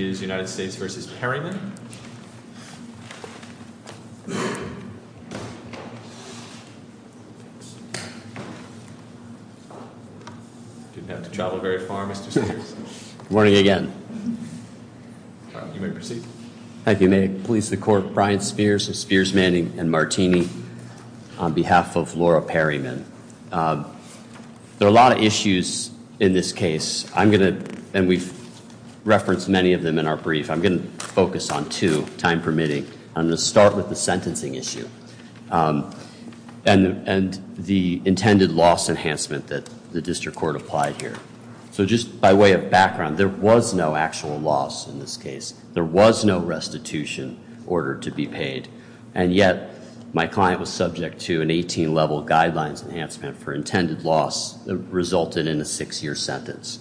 Good morning again. You may proceed. Thank you. May it please the court. Brian Spears of Spears Manning and Martini on behalf of Laura Perryman. There are a lot of issues in this case. I'm going to, and we've referenced many of them in our brief, I'm going to focus on two, time permitting. I'm going to start with the sentencing issue. And the intended loss enhancement that the district court applied here. So just by way of background, there was no actual loss in this case. There was no restitution order to be paid. And yet, my client was subject to an 18 level guidelines enhancement for intended loss that resulted in a six year sentence.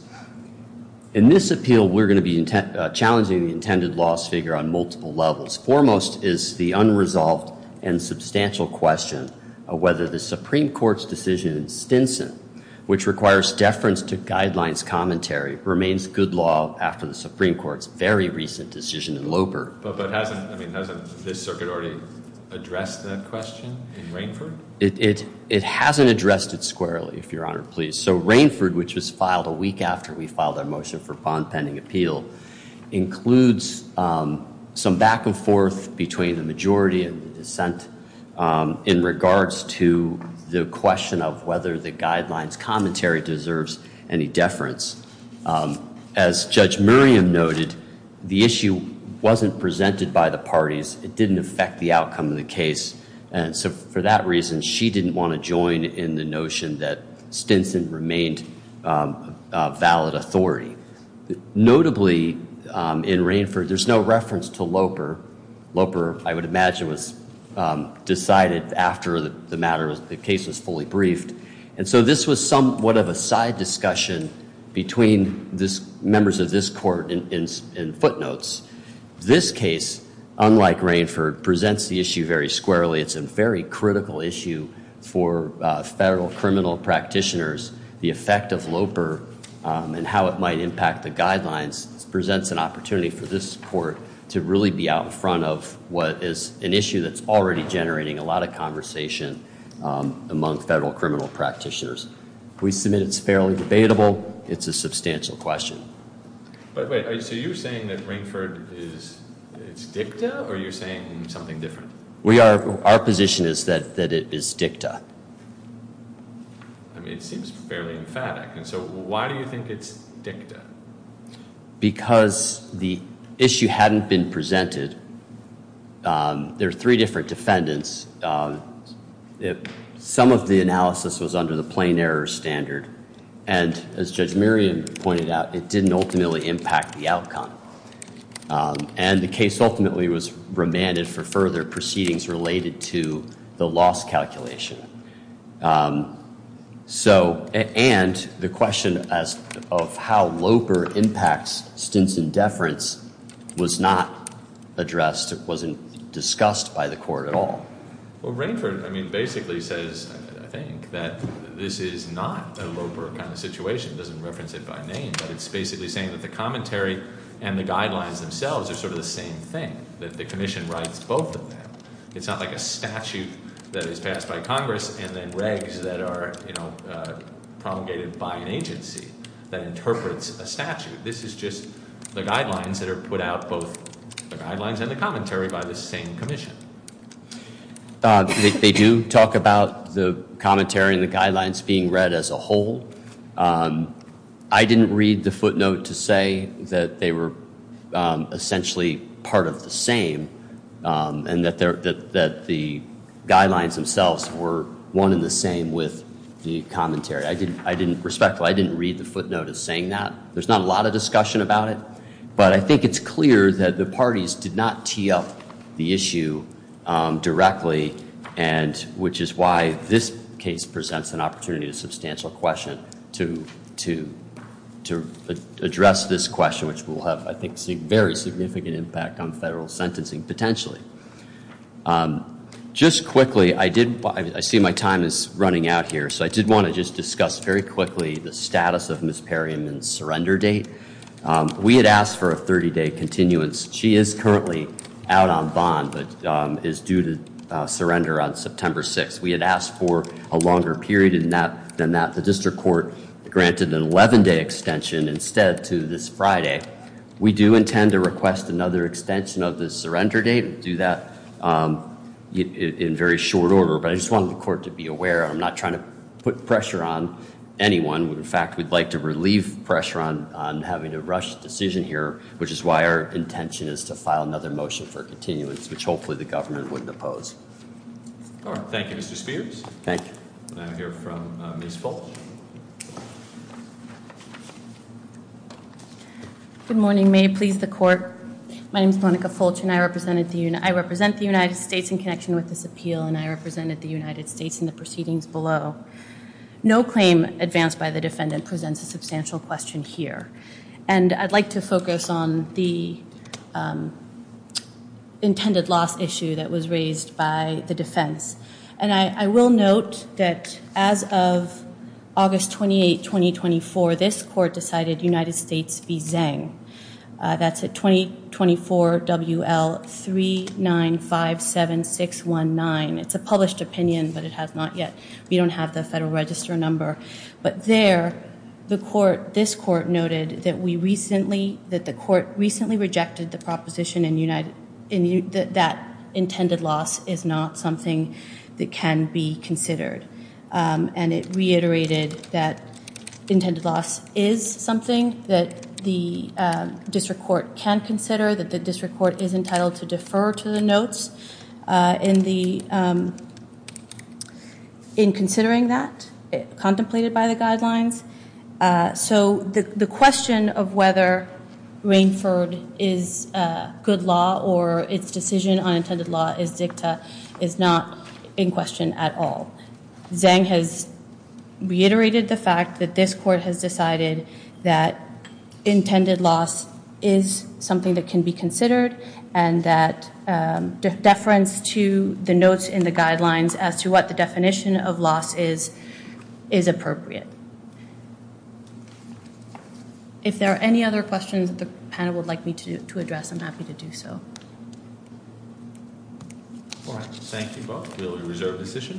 In this appeal, we're going to be challenging the intended loss figure on multiple levels. Foremost is the unresolved and substantial question of whether the Supreme Court's decision in Stinson, which requires deference to guidelines commentary, remains good law after the Supreme Court's very recent decision in Loper. But hasn't, I mean, hasn't this circuit already addressed that question in Rainford? It hasn't addressed it squarely, if your honor please. So Rainford, which was filed a week after we filed our motion for bond pending appeal, includes some back and forth between the majority and the dissent in regards to the question of whether the guidelines commentary deserves any deference. As Judge Miriam noted, the issue wasn't presented by the parties. It didn't affect the outcome of the case. And so for that reason, she didn't want to join in the notion that Stinson remained a valid authority. Notably, in Rainford, there's no reference to Loper. Loper, I would imagine, was decided after the matter, the case was fully briefed. And so this was somewhat of a side discussion between members of this court and footnotes. This case, unlike Rainford, presents the issue very squarely. It's a very critical issue for federal criminal practitioners. The effect of Loper and how it might impact the guidelines presents an opportunity for this court to really be out in front of what is an issue that's already generating a lot of conversation among federal criminal practitioners. We submit it's fairly debatable. It's a substantial question. But wait, so you're saying that Rainford is dicta or you're saying something different? Our position is that it is dicta. I mean, it seems fairly emphatic. And so why do you think it's dicta? Because the issue hadn't been presented. There are three different defendants. Some of the analysis was under the plain error standard. And as Judge Miriam pointed out, it didn't ultimately impact the outcome. And the case ultimately was remanded for further proceedings related to the loss calculation. And the question of how Loper impacts stints and deference was not addressed, wasn't discussed by the court at all. Well, Rainford basically says, I think, that this is not a Loper kind of situation. It doesn't reference it by name, but it's basically saying that the commentary and the guidelines themselves are sort of the same thing, that the commission writes both of them. It's not like a statute that is passed by Congress and then regs that are promulgated by an agency that interprets a statute. This is just the guidelines that are put out, both the guidelines and the commentary by the same commission. They do talk about the commentary and the guidelines being read as a whole. I didn't read the footnote to say that they were essentially part of the same and that the guidelines themselves were one and the same with the commentary. I didn't, respectfully, I didn't read the footnote as saying that. There's not a lot of discussion about it. But I think it's clear that the parties did not tee up the issue directly, which is why this case presents an opportunity to substantial question to address this question, which will have, I think, a very significant impact on federal sentencing, potentially. Just quickly, I see my time is running out here. So I did want to just discuss very quickly the status of Ms. Perryman's surrender date. We had asked for a 30-day continuance. She is currently out on bond but is due to surrender on September 6th. We had asked for a longer period than that. The district court granted an 11-day extension instead to this Friday. We do intend to request another extension of the surrender date. We'll do that in very short order. But I just wanted the court to be aware I'm not trying to put pressure on anyone. In fact, we'd like to relieve pressure on having a rushed decision here, which is why our intention is to file another motion for continuance, which hopefully the government wouldn't oppose. Thank you, Mr. Spears. Thank you. I now hear from Ms. Fulch. Good morning. May it please the court. My name is Monica Fulch, and I represent the United States in connection with this appeal, and I represented the United States in the proceedings below. No claim advanced by the defendant presents a substantial question here, and I'd like to focus on the intended loss issue that was raised by the defense. And I will note that as of August 28, 2024, this court decided United States v. Zhang. That's at 2024 WL3957619. It's a published opinion, but it has not yet. We don't have the Federal Register number. But there, this court noted that the court recently rejected the proposition that intended loss is not something that can be considered, and it reiterated that intended loss is something that the district court can consider, that the district court is entitled to defer to the notes in considering that, as contemplated by the guidelines. So the question of whether Rainford is good law or its decision on intended law is dicta is not in question at all. Zhang has reiterated the fact that this court has decided that intended loss is something that can be considered and that deference to the notes in the guidelines as to what the definition of loss is, is appropriate. If there are any other questions that the panel would like me to address, I'm happy to do so. Thank you both. We will reserve the session.